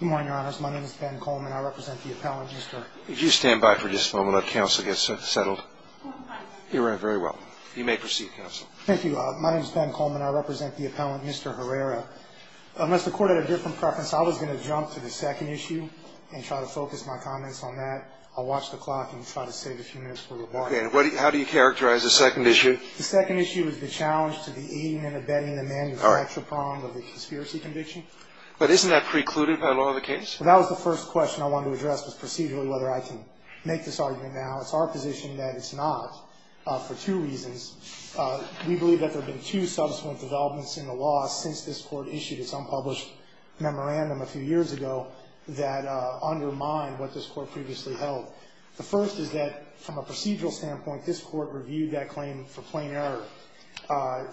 Good morning, your honors. My name is Ben Coleman. I represent the appellant, Mr. Herrera. If you stand by for just a moment, let counsel get settled. You ran very well. You may proceed, counsel. Thank you. My name is Ben Coleman. I represent the appellant, Mr. Herrera. Unless the court had a different preference, I was going to jump to the second issue and try to focus my comments on that. I'll watch the clock and try to save a few minutes for rebuttal. Okay. And how do you characterize the second issue? The second issue is the challenge to the aiding and abetting the manufacturer prong of the conspiracy conviction. But isn't that precluded by the law of the case? Well, that was the first question I wanted to address was procedurally whether I can make this argument now. It's our position that it's not for two reasons. We believe that there have been two subsequent developments in the law since this Court issued its unpublished memorandum a few years ago that undermine what this Court previously held. The first is that from a procedural standpoint, this Court reviewed that claim for plain error.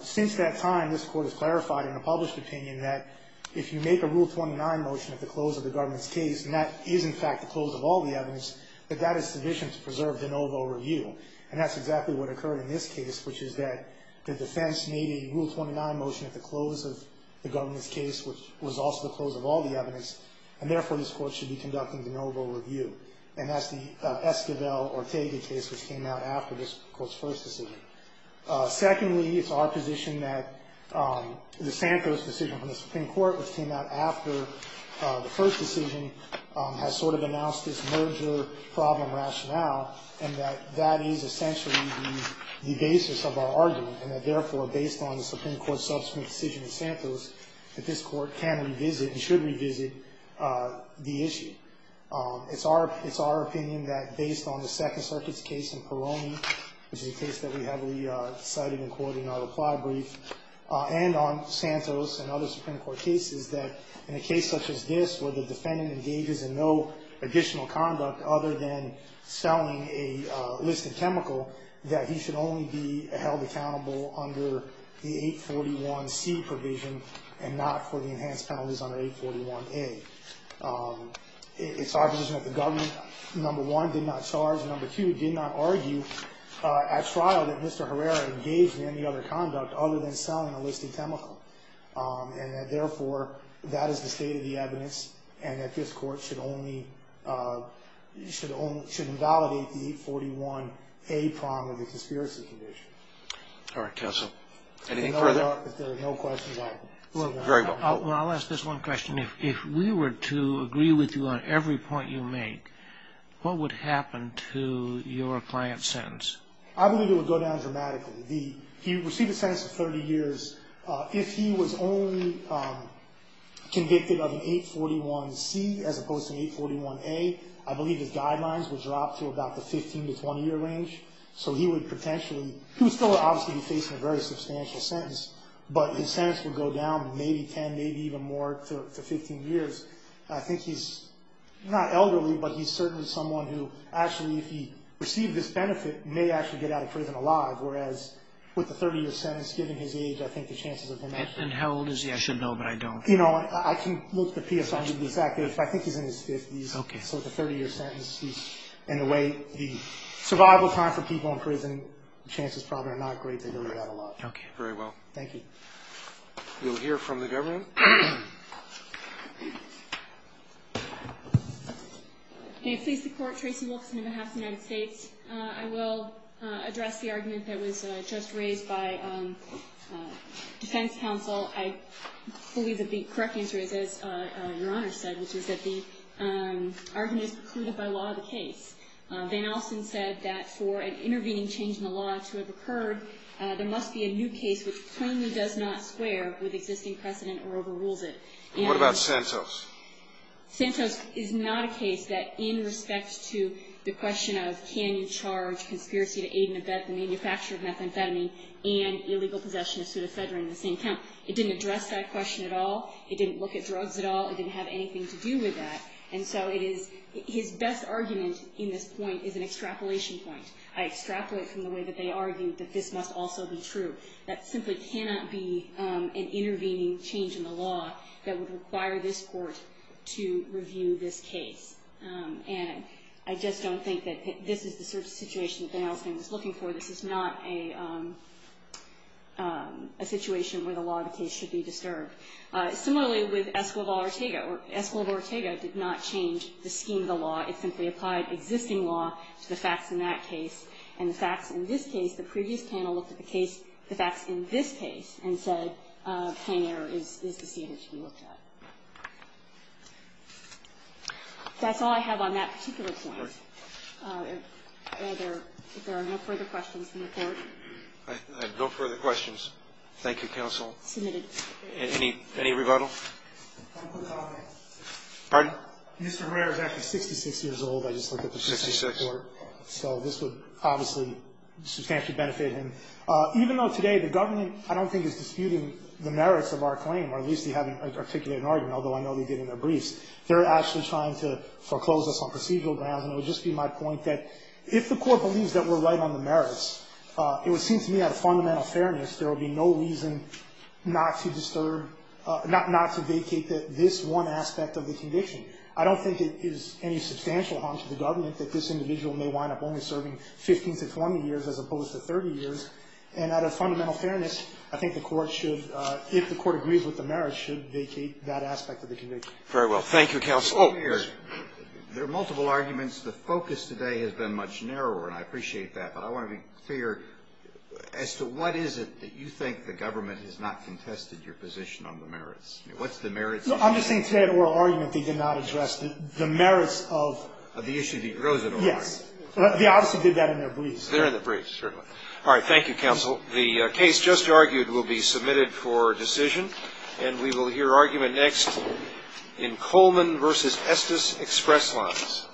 Since that time, this Court has clarified in a published opinion that if you make a Rule 29 motion at the close of the government's case, and that is, in fact, the close of all the evidence, that that is sufficient to preserve de novo review. And that's exactly what occurred in this case, which is that the defense made a Rule 29 motion at the close of the government's case, which was also the close of all the evidence, and therefore, this Court should be conducting de novo review. And that's the Esquivel-Ortega case, which came out after this Court's first decision. Secondly, it's our position that the Santos decision from the Supreme Court, which came out after the first decision, has sort of announced this merger problem rationale, and that that is essentially the basis of our argument, and that therefore, based on the Supreme Court's subsequent decision in Santos, that this Court can revisit and should revisit the issue. It's our opinion that based on the Second Circuit's case in Peroni, which is a case that we heavily cited in quoting our reply brief, and on Santos and other Supreme Court cases, that in a case such as this, where the defendant engages in no additional conduct other than selling a listed chemical, that he should only be held accountable under the 841C provision and not for the enhanced penalties under 841A. It's our position that the government, number one, did not charge, and number two, did not argue at trial that Mr. Herrera engaged in any other conduct other than selling a listed chemical, and that therefore, that is the state of the evidence, and that this Court should only invalidate the 841A prong of the conspiracy condition. All right, counsel. Anything further? If there are no questions, I will. Very well. Well, I'll ask this one question. If we were to agree with you on every point you make, what would happen to your client's sentence? I believe it would go down dramatically. He received a sentence of 30 years. If he was only convicted of an 841C as opposed to an 841A, I believe his guidelines would drop to about the 15- to 20-year range, so he would potentially, he would still obviously be facing a very substantial sentence, but his sentence would go down to maybe 10, maybe even more, to 15 years. I think he's not elderly, but he's certainly someone who actually, if he received this benefit, may actually get out of prison alive, whereas with the 30-year sentence, given his age, I think the chances of him... And how old is he? I should know, but I don't. You know, I can look the PSI up, but I think he's in his 50s. Okay. So it's a 30-year sentence. In a way, the survival time for people in prison, chances probably are not great. They don't get out alive. Okay. Very well. Thank you. We'll hear from the government. May it please the Court. Tracy Wilkerson on behalf of the United States. I will address the argument that was just raised by defense counsel. I believe that the correct answer is, as Your Honor said, which is that the argument is precluded by law of the case. Van Alsten said that for an intervening change in the law to have occurred, there must be a new case which plainly does not square with existing precedent or overrules it. And what about Santos? Santos is not a case that in respect to the question of can you charge conspiracy to aid and abet the manufacture of methamphetamine and illegal possession of psuedofedrin in the same count. It didn't address that question at all. It didn't look at drugs at all. It didn't have anything to do with that. And so his best argument in this point is an extrapolation point. I extrapolate from the way that they argued that this must also be true. That simply cannot be an intervening change in the law that would require this Court to review this case. And I just don't think that this is the sort of situation that Van Alsten was looking for. This is not a situation where the law of the case should be disturbed. Similarly with Escobar Ortega. Escobar Ortega did not change the scheme of the law. It simply applied existing law to the facts in that case. And the facts in this case, the previous panel looked at the case, the facts in this case and said plain error is the scheme that should be looked at. That's all I have on that particular point. If there are no further questions from the Court. Roberts. No further questions. Thank you, counsel. Any rebuttal? Pardon? Mr. Rare is actually 66 years old. I just looked at the percentage. Sixty-six. So this would obviously substantially benefit him. Even though today the government I don't think is disputing the merits of our claim or at least they haven't articulated an argument, although I know they did in their briefs. They're actually trying to foreclose us on procedural grounds. And it would just be my point that if the Court believes that we're right on the merits, it would seem to me out of fundamental fairness there would be no reason not to disturb, not to vacate this one aspect of the conviction. I don't think it is any substantial harm to the government that this individual may wind up only serving 15 to 20 years as opposed to 30 years. And out of fundamental fairness, I think the Court should, if the Court agrees with the merits, should vacate that aspect of the conviction. Very well. Thank you, counsel. Mr. Rare, there are multiple arguments. The focus today has been much narrower, and I appreciate that. But I want to be clear as to what is it that you think the government has not contested your position on the merits. I mean, what's the merits? I'm just saying today that oral argument they did not address the merits of the issue that arose at oral argument. Yes. They obviously did that in their briefs. They're in the briefs, certainly. All right. Thank you, counsel. The case just argued will be submitted for decision. And we will hear argument next in Coleman v. Estes Express Lines.